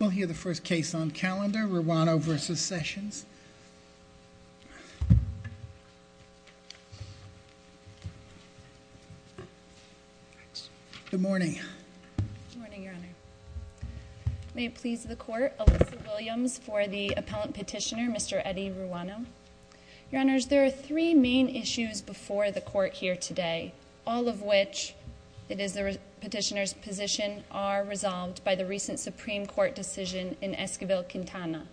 We'll hear the first case on calendar, Ruano v. Sessions. Good morning, may it please the court, Alyssa Williams for the appellant petitioner Mr. Eddie Ruano. Your honors, there are three main issues before the court here today, all of which it is the petitioner's position are resolved by the recent Supreme Court decision in Esquivel-Quintana.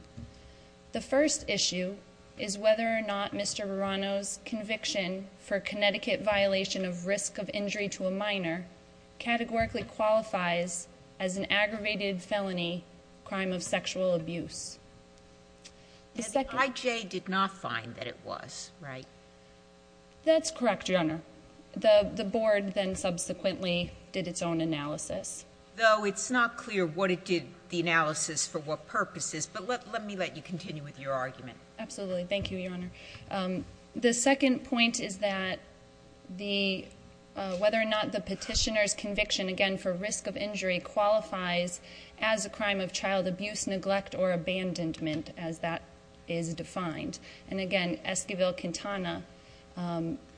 The first issue is whether or not Mr. Ruano's conviction for Connecticut violation of risk of injury to a minor categorically qualifies as an aggravated felony crime of sexual abuse. The IJ did not find that it was, right? That's correct, your honor. The board then subsequently did its own analysis. Though it's not clear what it did the analysis for what purposes, but let me let you continue with your argument. Absolutely, thank you, your honor. The second point is that whether or not the petitioner's conviction again for risk of injury qualifies as a crime of child abuse, neglect, or abandonment as that is defined. And again, Esquivel-Quintana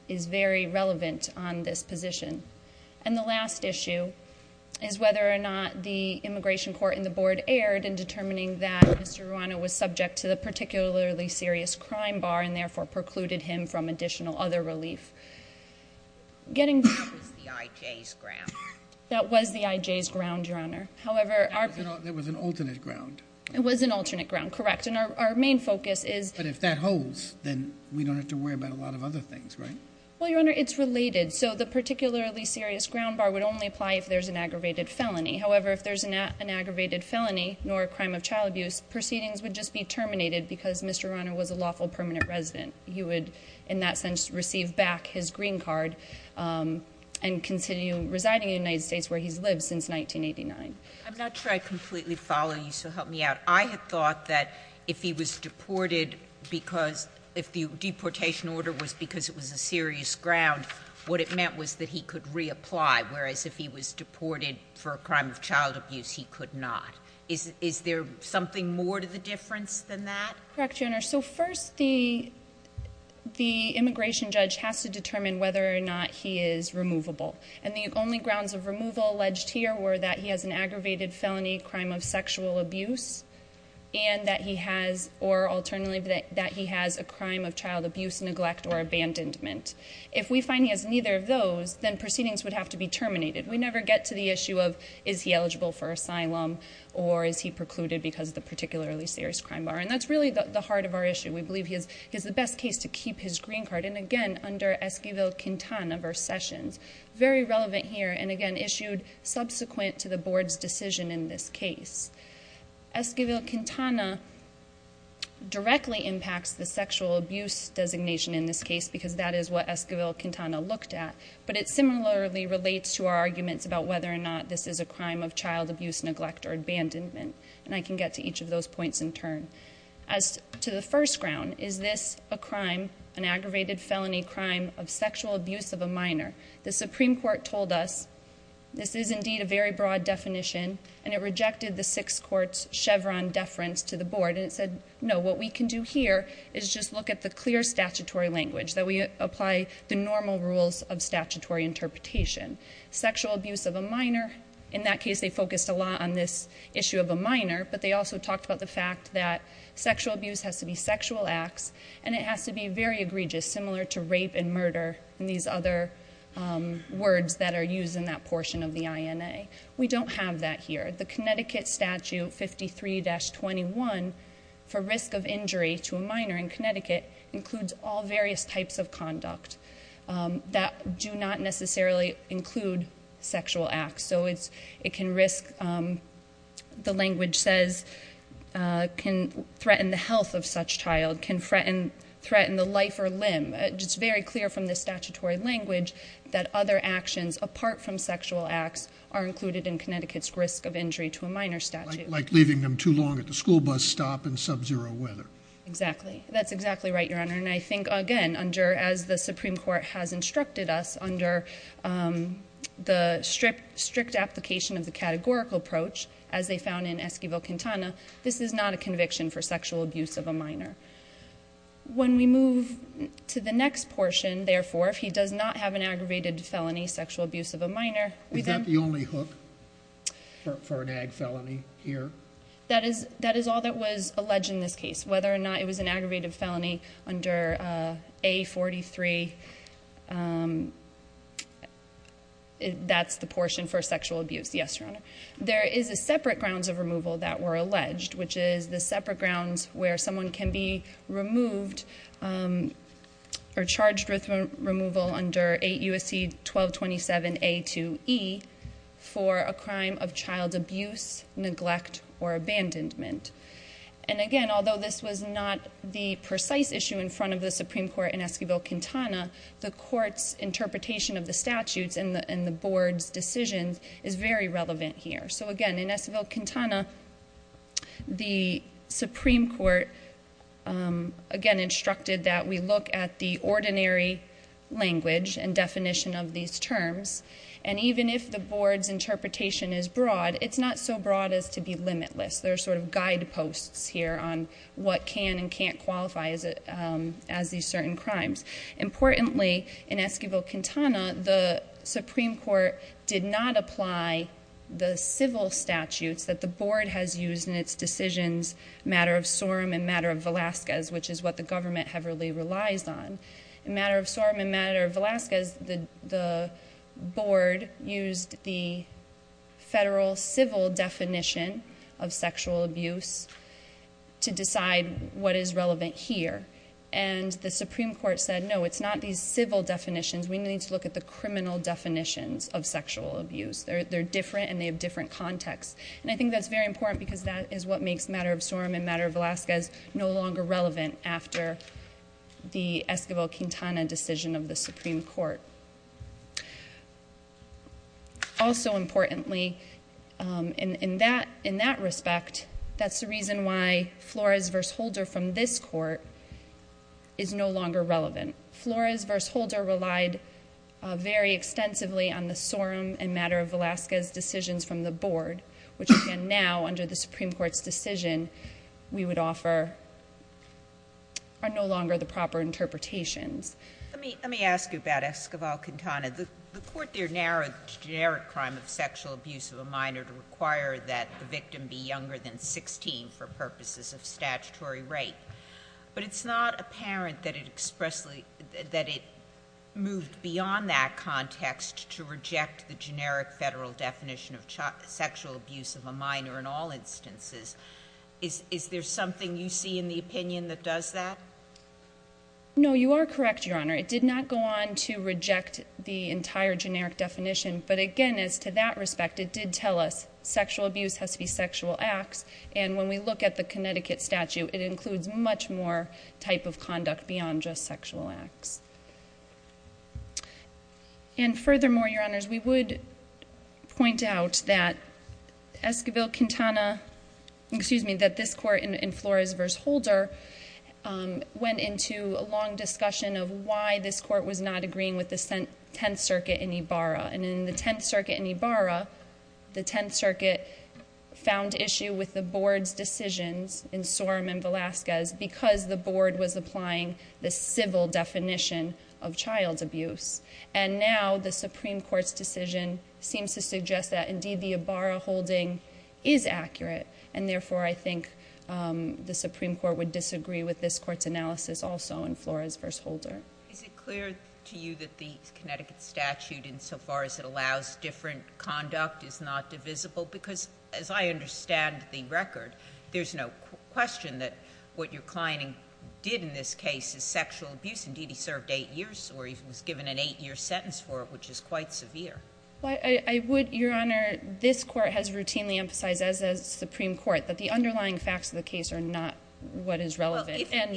is very relevant on this position. And the last issue is whether or not the immigration court in the board erred in determining that Mr. Ruano was subject to the particularly serious crime bar and therefore precluded him from additional other relief. That was the IJ's ground. That was the IJ's ground, your honor. There was an alternate ground. It was an alternate ground, correct. And our main focus is... But if that holds, then we don't have to worry about a lot of other things, right? Well, your honor, it's related. So the particularly serious ground bar would only apply if there's an aggravated felony. However, if there's an aggravated felony, nor a crime of child abuse, proceedings would just be terminated because Mr. Ruano was a lawful permanent resident. He would, in that sense, receive back his green card and continue residing in the United States where he's lived since 1989. I'm not sure I completely follow you, so help me out. I had thought that if he was deported because...if the deportation order was because it was a serious ground, what it meant was that he could reapply, whereas if he was deported for a crime of child abuse, he could not. Is there something more to the difference than that? Correct, your honor. So first, the immigration judge has to determine whether or not he is removable. And the only grounds of removal alleged here were that he has an aggravated felony crime of sexual abuse, and that he has...or alternately, that he has a crime of child abuse, neglect, or abandonment. If we find he has neither of those, then proceedings would have to be terminated. We never get to the issue of, is he eligible for asylum, or is he precluded because of the particularly serious crime bar? And that's really the heart of our issue. We believe he has the best case to keep his green card. And again, under Esquivel Quintana v. Sessions. Very relevant here, and again, issued subsequent to the board's decision in this case. Esquivel Quintana directly impacts the sexual abuse designation in this case, because that is what Esquivel Quintana looked at. But it similarly relates to our arguments about whether or not this is a crime of child abuse, neglect, or abandonment. And I can get to each of those points in turn. As to the first ground, is this a crime, an abuse of a minor? The Supreme Court told us, this is indeed a very broad definition, and it rejected the Sixth Court's Chevron deference to the board. And it said, no, what we can do here is just look at the clear statutory language, that we apply the normal rules of statutory interpretation. Sexual abuse of a minor, in that case, they focused a lot on this issue of a minor, but they also talked about the fact that sexual abuse has to be these other words that are used in that portion of the INA. We don't have that here. The Connecticut statute 53-21, for risk of injury to a minor in Connecticut, includes all various types of conduct that do not necessarily include sexual acts. So it can risk, the language says, can threaten the health of such child, can threaten the life or limb. It's very clear from the statutory language that other actions apart from sexual acts are included in Connecticut's risk of injury to a minor statute. Like leaving them too long at the school bus stop in sub-zero weather. Exactly. That's exactly right, Your Honor. And I think, again, under, as the Supreme Court has instructed us, under the strict application of the categorical approach, as they found in Esquivel-Quintana, this is not a conviction for sexual abuse of a minor. When we move to the next portion, therefore, if he does not have an aggravated felony sexual abuse of a minor. Is that the only hook for an ag felony here? That is all that was alleged in this case. Whether or not it was an aggravated felony under A-43, that's the portion for sexual abuse, yes, Your Honor. There is a separate grounds of removal that were alleged, which is the separate grounds where someone can be removed or charged with removal under 8 U.S.C. 1227 A-2E for a crime of child abuse, neglect, or abandonment. And again, although this was not the precise issue in front of the Supreme Court in Esquivel-Quintana, the court's interpretation of the statutes and the board's decision is very relevant here. So again, in Esquivel-Quintana, the Supreme Court, again, instructed that we look at the ordinary language and definition of these terms. And even if the board's interpretation is broad, it's not so broad as to be limitless. There are sort of guideposts here on what can and can't qualify as these certain crimes. Importantly, in Esquivel-Quintana, the Supreme Court did not apply the civil statutes that the board has used in its decisions, matter of SORM and matter of Velazquez, which is what the government heavily relies on. Matter of SORM and matter of Velazquez, the board used the federal civil definition of sexual abuse to decide what is relevant here. And the Supreme Court said, no, it's not these criminal definitions of sexual abuse. They're different and they have different contexts. And I think that's very important because that is what makes matter of SORM and matter of Velazquez no longer relevant after the Esquivel-Quintana decision of the Supreme Court. Also importantly, in that respect, that's the reason why Flores v. Holder from this court is no longer relevant. Flores v. Holder relied very extensively on the SORM and matter of Velazquez decisions from the board, which again now, under the Supreme Court's decision, we would offer are no longer the proper interpretations. Let me ask you about Esquivel-Quintana. The court there narrowed the generic crime of sexual abuse of a minor to require that the victim be younger than 16 for purposes of But it's not apparent that it expressedly, that it moved beyond that context to reject the generic federal definition of sexual abuse of a minor in all instances. Is there something you see in the opinion that does that? No, you are correct, Your Honor. It did not go on to reject the entire generic definition. But again, as to that respect, it did tell us sexual abuse has to be sexual acts. And when we look at the Connecticut statute, it includes much more type of conduct beyond just sexual acts. And furthermore, Your Honors, we would point out that Esquivel-Quintana, excuse me, that this court in Flores v. Holder went into a long discussion of why this court was not agreeing with the Tenth Circuit in Ibarra. And in the Tenth Circuit in Ibarra, the Tenth Court's decision in Sorum v. Velasquez, because the board was applying the civil definition of child abuse. And now the Supreme Court's decision seems to suggest that indeed the Ibarra holding is accurate. And therefore, I think the Supreme Court would disagree with this court's analysis also in Flores v. Holder. Is it clear to you that the Connecticut statute, insofar as it allows different conduct, is not divisible? Because as I understand the record, there's no question that what your client did in this case is sexual abuse. Indeed, he served eight years, or he was given an eight-year sentence for it, which is quite severe. Well, I would, Your Honor, this court has routinely emphasized, as has the Supreme Court, that the underlying facts of the case are not what is relevant. Well,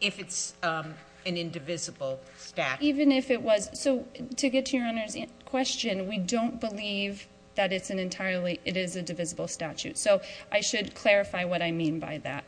if it's an indivisible statute. So to get to Your Honor's question, we don't believe that it's an entirely, it is a divisible statute. So I should clarify what I mean by that.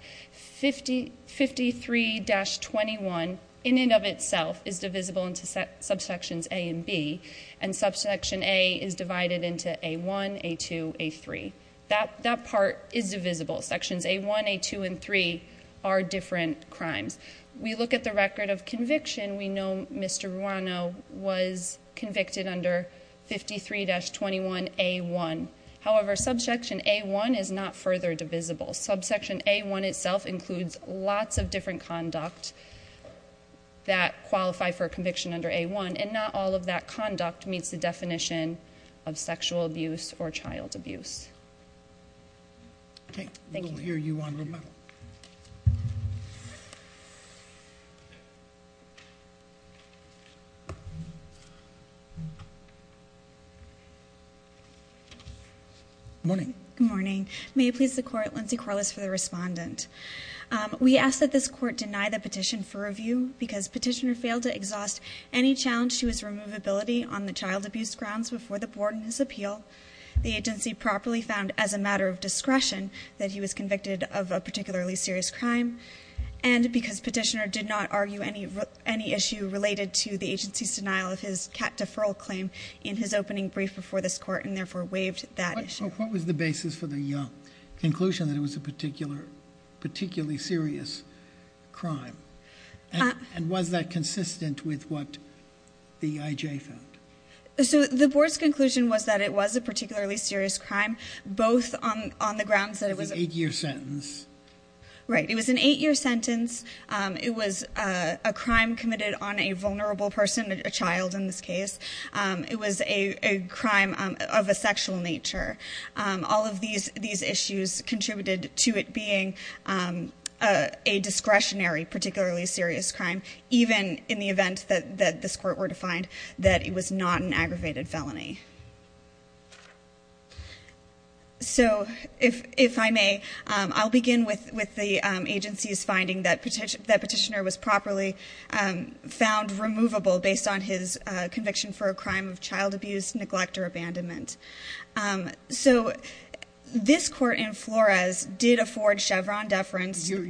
53-21, in and of itself, is divisible into subsections A and B. And subsection A is divided into A1, A2, A3. That part is divisible. Sections A1, A2, and 3 are different crimes. We look at the record of conviction, we know Mr. Ruano was convicted under 53-21A1. However, subsection A1 is not further divisible. Subsection A1 itself includes lots of different conduct that qualify for conviction under A1, and not all of that conduct meets the definition of sexual abuse or child abuse. Okay. We'll hear you on the medal. Good morning. May it please the court, Lindsay Corliss for the respondent. We ask that this court deny the petition for review because petitioner failed to exhaust any challenge to his removability on the child abuse grounds before the board in his appeal. The agency properly found, as a matter of discretion, that he was convicted of a particularly serious crime, and because petitioner did not argue any issue related to the agency's denial of his cat deferral claim in his opening brief before this court, and therefore waived that issue. What was the basis for the conclusion that it was a particularly serious crime? And was that consistent with what the IJ found? So the board's conclusion was that it was a particularly serious crime, both on the grounds that it was an eight-year sentence. It was a crime committed on a vulnerable person, a child in this case. It was a crime of a sexual nature. All of these issues contributed to it being a discretionary particularly serious crime, even in the event that this court were to find that it was not an aggravated felony. So if I may, I'll begin with the agency's finding that petitioner was properly found removable based on his conviction for a crime of child abuse, neglect, or abandonment. So this court in Flores did afford Chevron deference. Your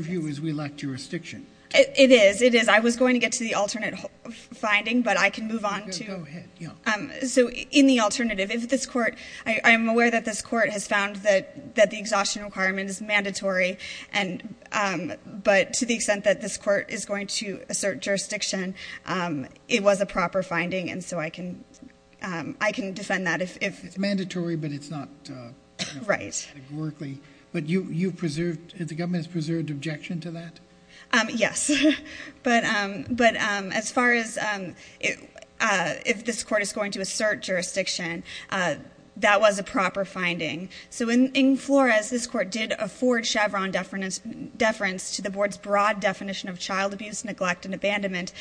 view is we lack jurisdiction. It is. It is. I was going to get to the alternate finding, but I can move on to... Go ahead. So in the alternative, if this court... I'm aware that this court has found that the exhaustion requirement is mandatory, but to the extent that this court is going to assert jurisdiction, it was a proper finding, and so I can defend that if... It's mandatory, but it's not... Right. ...categorically, but you've preserved... The government has preserved objection to that? Yes, but as far as if this court is going to assert jurisdiction, that was a proper finding. So in Flores, this court did afford Chevron deference to the board's broad definition of child abuse, neglect, and abandonment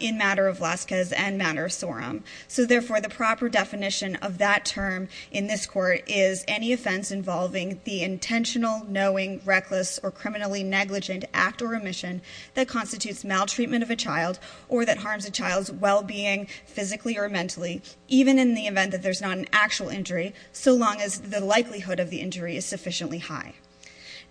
in matter of Lascaz and matter of Sorum. So therefore, the proper definition of that term in this court is any offense involving the intentional, knowing, reckless, or criminally negligent act or omission that constitutes maltreatment of a child or that harms a child's well-being physically or mentally, even in the event that there's not an actual injury, so long as the likelihood of the injury is sufficiently high.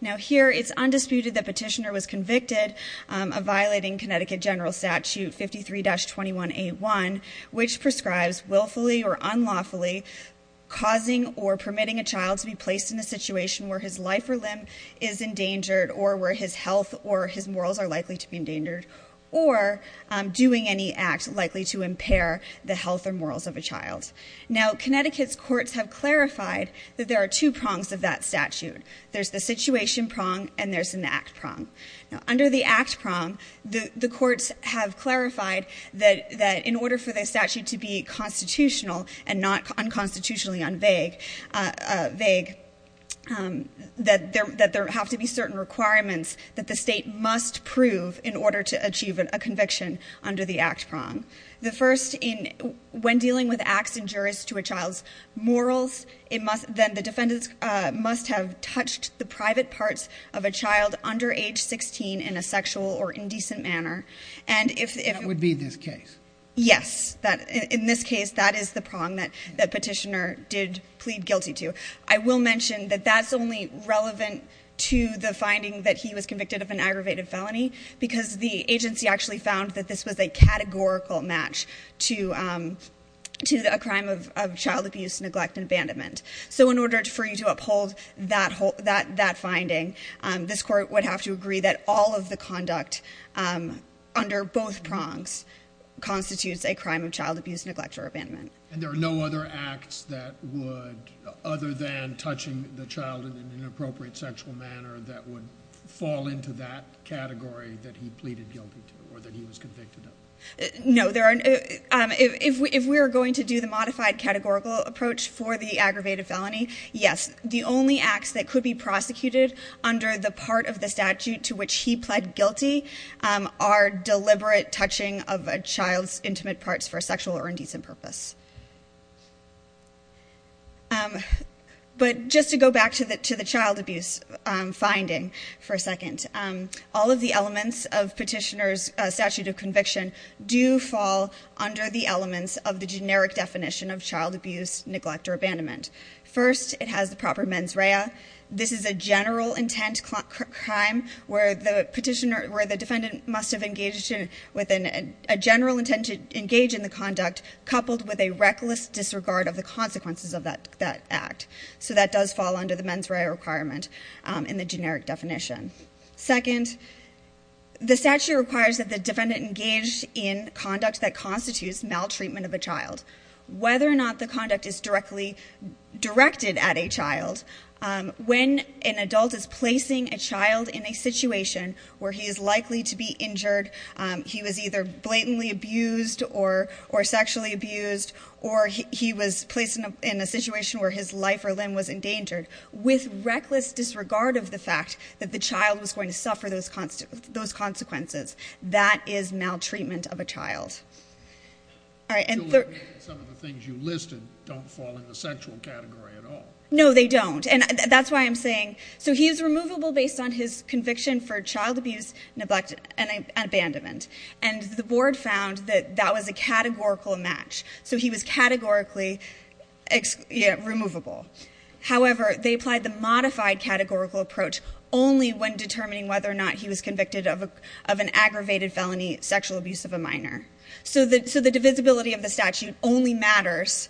Now, here, it's undisputed that Petitioner was convicted of violating Connecticut General Statute 53-21A1, which prescribes willfully or unlawfully causing or permitting a child to be placed in a situation where his life or limb is endangered or where his health or his morals are likely to be endangered or doing any act likely to impair the health or morals of a child. Now, Connecticut's courts have clarified that there are two prongs of that statute. There's the situation prong, and there's an act prong. Now, under the act prong, the courts have clarified that in order for the statute to be constitutional and not unconstitutionally unvague, that there have to be certain requirements that the state must prove in order to achieve a conviction under the act prong. The first, when dealing with acts injurious to a child's morals, then the defendant must have touched the private parts of a child under age 16 in a sexual or indecent manner. And if... That would be this case. Yes. In this case, that is the prong that Petitioner did plead guilty to. I will mention that that's only relevant to the finding that he was convicted of an aggravated felony, because the agency actually found that this was a categorical match to a crime of child abuse, neglect and abandonment. So in order for you to uphold that finding, this court would have to agree that all of the conduct under both prongs constitutes a crime of child abuse, neglect or abandonment. And there are no other acts that would, other than touching the child in an inappropriate sexual manner, that would fall into that category that he pleaded guilty to, or that he was convicted of? No, there aren't. If we are going to do the modified categorical approach for the aggravated felony, yes. The only acts that could be prosecuted under the part of the statute to which he pled guilty are deliberate touching of a child's intimate parts for sexual or indecent purpose. But just to go back to the child abuse finding for a second, all of the elements of Petitioner's do fall under the elements of the generic definition of child abuse, neglect or abandonment. First, it has the proper mens rea. This is a general intent crime where the defendant must have engaged in a general intent to engage in the conduct, coupled with a reckless disregard of the consequences of that act. So that does fall under the mens rea requirement in the generic definition. Second, the statute requires that the defendant engage in conduct that constitutes maltreatment of a child. Whether or not the conduct is directly directed at a child, when an adult is placing a child in a situation where he is likely to be injured, he was either blatantly abused or sexually abused, or he was placed in a situation where his life or limb was going to suffer those consequences. That is maltreatment of a child. Some of the things you listed don't fall in the sexual category at all. No, they don't. And that's why I'm saying, so he is removable based on his conviction for child abuse, neglect and abandonment. And the board found that that was a categorical match. So he was categorically removable. However, they applied the modified categorical approach only when determining whether or not he was convicted of an aggravated felony sexual abuse of a minor. So the divisibility of the statute only matters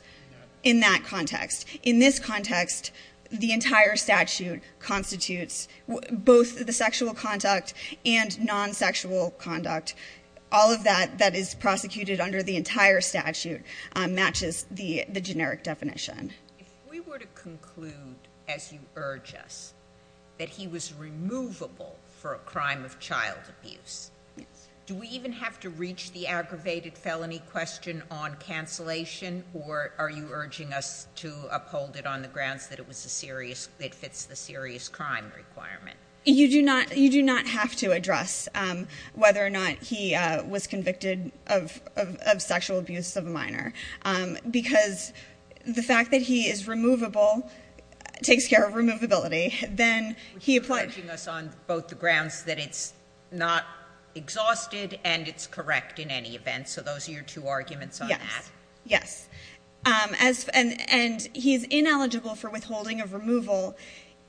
in that context. In this context, the entire statute constitutes both the sexual conduct and non-sexual conduct. All of that that is prosecuted under the entire statute matches the generic definition. If we were to conclude, as you urge us, that he was removable for a crime of child abuse, do we even have to reach the aggravated felony question on cancellation, or are you urging us to uphold it on the grounds that it fits the serious crime requirement? You do not have to address whether or not he was convicted of sexual abuse of a minor, because the fact that he is removable takes care of removability. Then he applied... You're urging us on both the grounds that it's not exhausted and it's correct in any event. So those are your two arguments on that? Yes. And he's ineligible for withholding of removal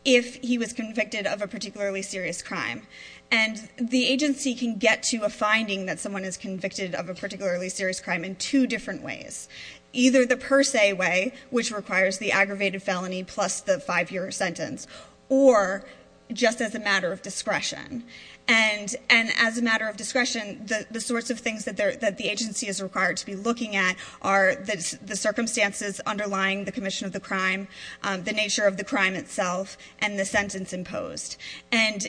if he was convicted of a particularly serious crime. And the agency can get to a finding that someone is convicted of a particularly serious crime in two different ways. Either the per se way, which requires the aggravated felony plus the five-year sentence, or just as a matter of discretion. And as a matter of discretion, the sorts of things that the agency is required to be looking at are the circumstances underlying the commission of the crime, the nature of the crime itself, and the sentence imposed. And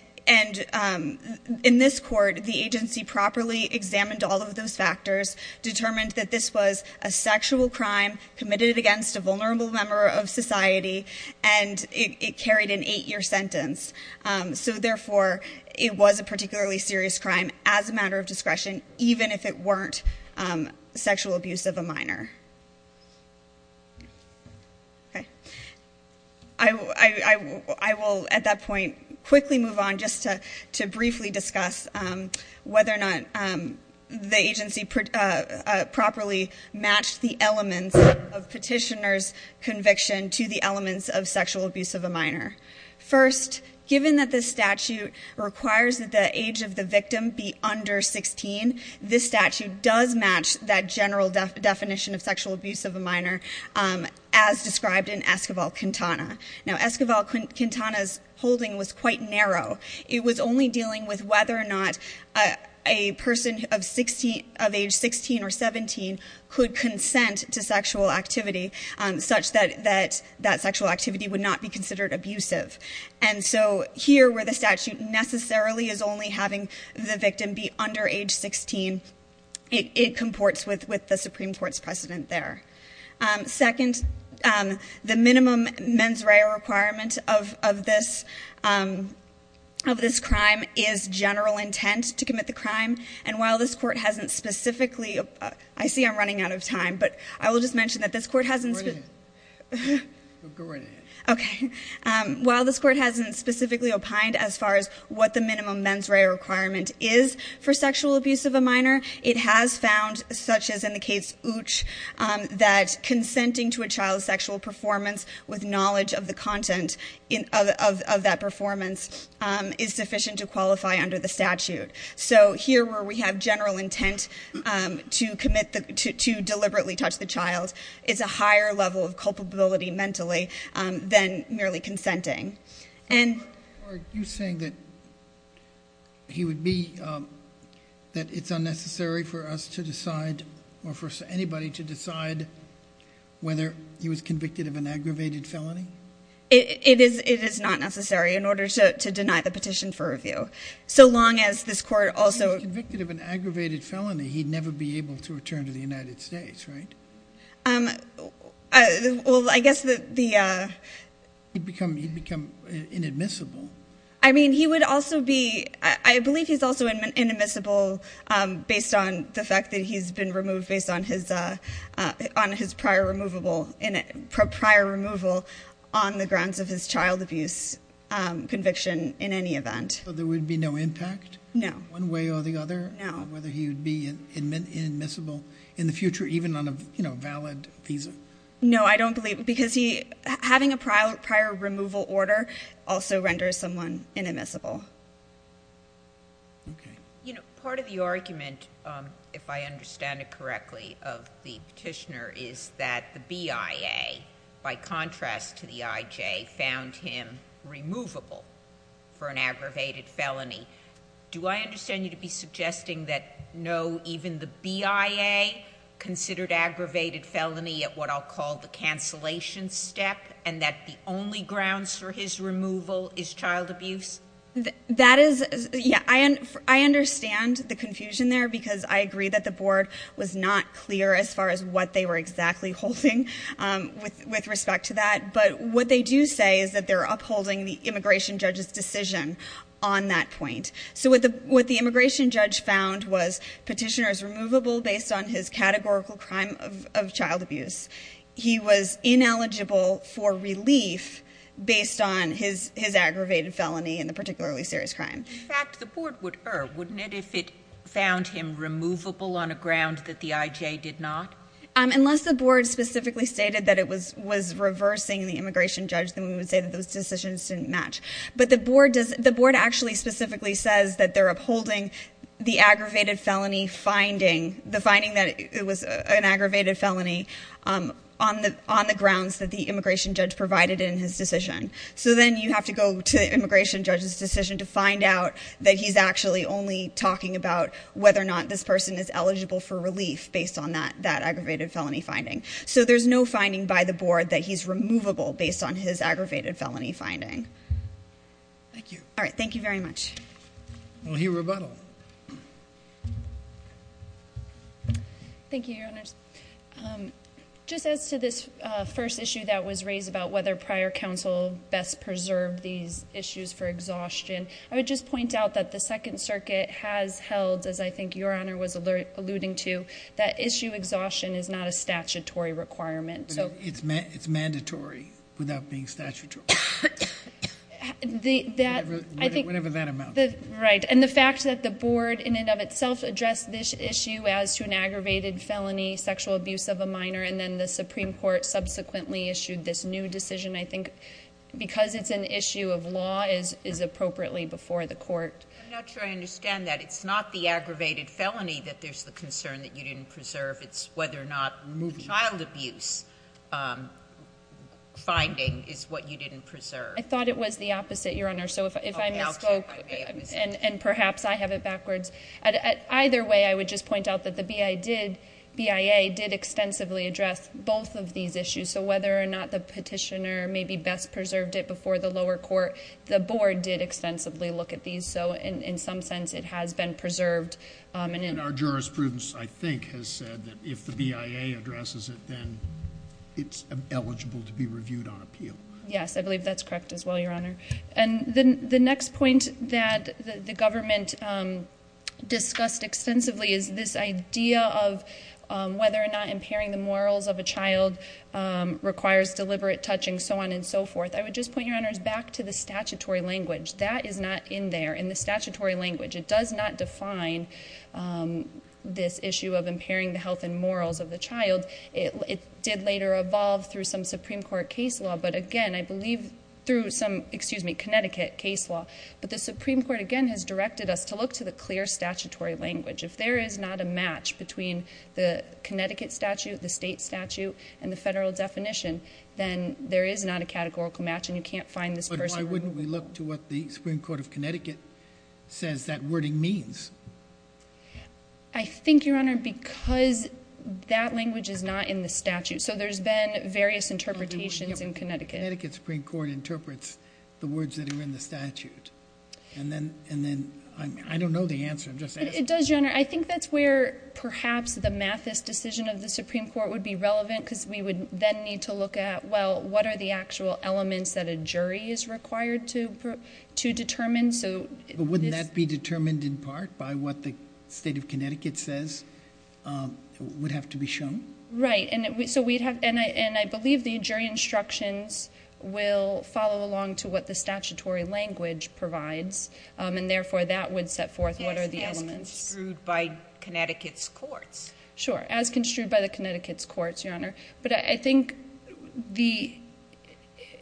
in this court, the agency properly examined all of those factors, determined that this was a sexual crime committed against a vulnerable member of society, and it carried an eight-year sentence. So therefore, it was a particularly serious crime as a matter of discretion, even if it weren't sexual abuse of a minor. I will at that point quickly move on just to briefly discuss whether or not the agency properly matched the elements of petitioner's conviction to the elements of sexual abuse of a minor. First, given that this statute requires that the age of the victim be under 16, this statute does match that general definition of sexual abuse of a minor as described in Esquivel-Quintana. Now, Esquivel-Quintana's holding was quite narrow. It was only dealing with whether or not a person of age 16 or 17 could consent to sexual activity, such that that sexual activity would not be considered abusive. And so here, where the statute necessarily is only having the victim be under age 16, it comports with the Supreme Court's precedent there. Second, the minimum mens rea requirement of this crime is that the victim should be of this general intent to commit the crime. And while this Court hasn't specifically – I see I'm running out of time, but I will just mention that this Court hasn't – while this Court hasn't specifically opined as far as what the minimum mens re requirement is for sexual abuse of a minor, it has found, such as in the case Uch, that consenting to a child's sexual performance with knowledge of the content of that performance is sufficient to qualify under the statute. So here, where we have general intent to commit the – to deliberately touch the child, it's a higher level of culpability mentally than merely consenting. And – Are you saying that he would be – that it's unnecessary for us to decide or for anybody to decide whether he was convicted of an aggravated felony? It is not necessary in order to deny the petition for review. So long as this Court also – If he was convicted of an aggravated felony, he'd never be able to return to the United States, right? Well, I guess the – He'd become inadmissible. I mean, he would also be – I believe he's also inadmissible based on the fact that he's been removed based on his – on his prior removable – prior removal on the grounds of his child abuse conviction in any event. So there would be no impact? No. One way or the other? No. Whether he would be inadmissible in the future, even on a, you know, valid visa? No, I don't believe – because he – having a prior removal order also renders someone inadmissible. Okay. You know, part of the argument, if I understand it correctly, of the petitioner is that the BIA, by contrast to the IJ, found him removable for an aggravated felony. Do I understand you to be suggesting that no, even the BIA considered aggravated felony at what I'll call the cancellation step, and that the only grounds for his removal is child abuse? That is – yeah, I understand the confusion there, because I agree that the board was not clear as far as what they were exactly holding with respect to that. But what they do say is that they're upholding the immigration judge's decision on that point. So what the immigration judge found was petitioner is removable based on his categorical crime of child abuse. He was ineligible for relief based on his aggravated felony in the past. In fact, the board would err, wouldn't it, if it found him removable on a ground that the IJ did not? Unless the board specifically stated that it was reversing the immigration judge, then we would say that those decisions didn't match. But the board does – the board actually specifically says that they're upholding the aggravated felony finding – the finding that it was an aggravated felony on the grounds that the immigration judge provided in his decision to find out that he's actually only talking about whether or not this person is eligible for relief based on that aggravated felony finding. So there's no finding by the board that he's removable based on his aggravated felony finding. Thank you. All right. Thank you very much. We'll hear rebuttal. Thank you, Your Honors. Just as to this first issue that was raised about whether prior counsel best preserved these issues for exhaustion, I would just point out that the Second Circuit has held, as I think Your Honor was alluding to, that issue exhaustion is not a statutory requirement. But it's mandatory without being statutory, whatever that amounts to. Right. And the fact that the board in and of itself addressed this issue as to an aggravated felony, sexual abuse of a minor, and then the Supreme Court subsequently issued this new decision, I think, because it's an issue of law, is appropriately before the court. I'm not sure I understand that. It's not the aggravated felony that there's the concern that you didn't preserve. It's whether or not child abuse finding is what you didn't preserve. I thought it was the opposite, Your Honor. So if I misspoke, and perhaps I have it backwards. Either way, I would just point out that the BIA did extensively address both of these issues. So whether or not the petitioner maybe best preserved it before the lower court, the board did extensively look at these. So in some sense, it has been preserved. And our jurisprudence, I think, has said that if the BIA addresses it, then it's eligible to be reviewed on appeal. Yes, I believe that's correct as well, Your Honor. And the next point that the government discussed extensively is this idea of whether or not requires deliberate touching, so on and so forth. I would just point, Your Honors, back to the statutory language. That is not in there. In the statutory language, it does not define this issue of impairing the health and morals of the child. It did later evolve through some Supreme Court case law. But again, I believe through some, excuse me, Connecticut case law. But the Supreme Court, again, has directed us to look to the clear statutory language. If there is not a match between the Connecticut statute, the state statute, and the federal definition, then there is not a categorical match and you can't find this person. But why wouldn't we look to what the Supreme Court of Connecticut says that wording means? I think, Your Honor, because that language is not in the statute. So there's been various interpretations in Connecticut. Connecticut Supreme Court interprets the words that are in the statute. And then, I don't know the answer. I'm just asking. It does, Your Honor. I think that's where perhaps the Mathis decision of the Supreme Court would be relevant, because we would then need to look at, well, what are the actual elements that a jury is required to determine, so... But wouldn't that be determined in part by what the state of Connecticut says would have to be shown? Right. And so we'd have... And I believe the jury instructions will follow along to what the statutory language provides. And therefore, that would set forth what are the elements. Yes, as construed by Connecticut's courts. Sure. As construed by the Connecticut's courts, Your Honor. But I think the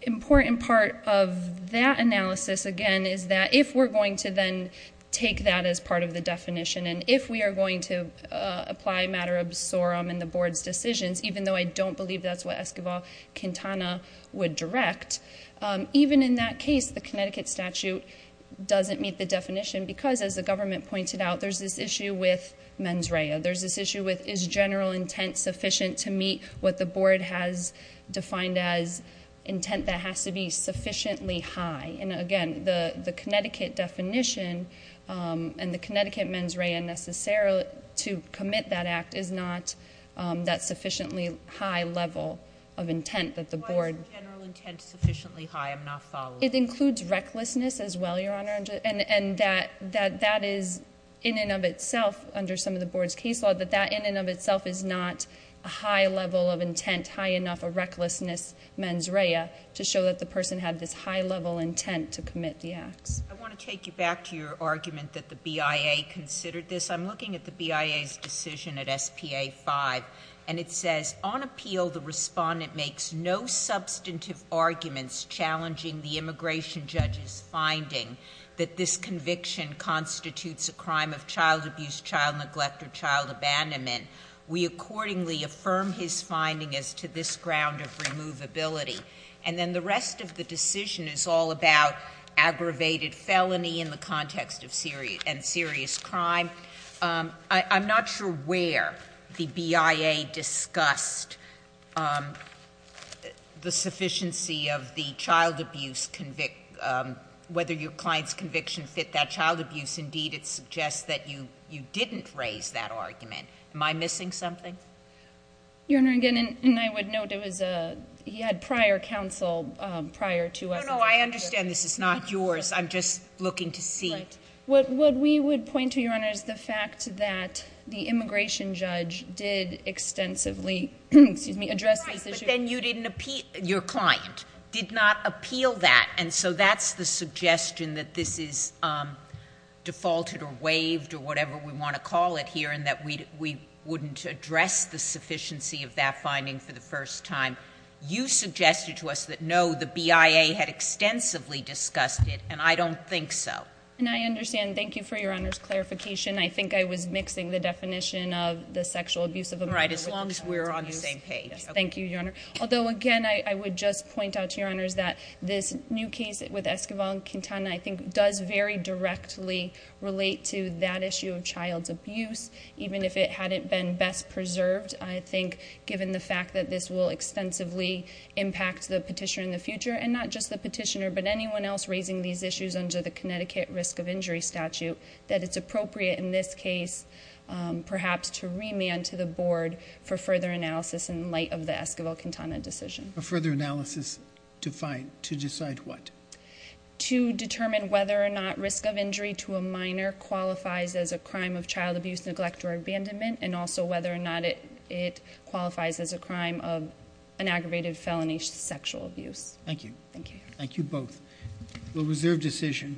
important part of that analysis, again, is that if we're going to then take that as part of the definition, and if we are going to apply matter absorum in the Board's decisions, even though I don't believe that's what Esquivel-Quintana would direct, even in that case, the Connecticut statute doesn't meet the definition, because as the government pointed out, there's this issue with is general intent sufficient to meet what the Board has defined as intent that has to be sufficiently high. And again, the Connecticut definition and the Connecticut mens rea necessarily to commit that act is not that sufficiently high level of intent that the Board... Why is general intent sufficiently high? I'm not following. It includes recklessness as well, Your Honor. And that is, in and of itself, under some of the Board's case law, that that, in and of itself, is not a high level of intent, high enough of recklessness mens rea to show that the person had this high level intent to commit the acts. I want to take you back to your argument that the BIA considered this. I'm looking at the BIA's decision at S.P.A. 5, and it says, on appeal, the respondent makes no substantive arguments challenging the immigration judge's finding that this conviction constitutes a child abandonment. We accordingly affirm his finding as to this ground of removability. And then the rest of the decision is all about aggravated felony in the context of serious crime. I'm not sure where the BIA discussed the sufficiency of the child abuse... whether your client's conviction fit that child abuse. Indeed, it suggests that you didn't raise that argument. Am I missing something? Your Honor, again, and I would note, it was a... he had prior counsel prior to us... No, no. I understand this is not yours. I'm just looking to see... Right. What we would point to, Your Honor, is the fact that the immigration judge did extensively address this issue...... and that we wouldn't address the sufficiency of that finding for the first time. You suggested to us that, no, the BIA had extensively discussed it, and I don't think so. And I understand. Thank you for Your Honor's clarification. I think I was mixing the definition of the sexual abuse of a minor... Right, as long as we're on the same page. Thank you, Your Honor. Although, again, I would just point out to Your Honors that this new case with Esquivel-Quintana, I think, does very directly relate to that issue of child abuse, even if it hadn't been best preserved. I think, given the fact that this will extensively impact the petitioner in the future, and not just the petitioner, but anyone else raising these issues under the Connecticut Risk of Injury Statute, that it's appropriate in this case, perhaps, to remand to the Board for further analysis in light of the Esquivel-Quintana decision. A further analysis to find... to decide what? To determine whether or not risk of injury to a minor qualifies as a crime of child abuse, neglect, or abandonment, and also whether or not it qualifies as a crime of an aggravated felony sexual abuse. Thank you. Thank you. Thank you both. We'll reserve decision.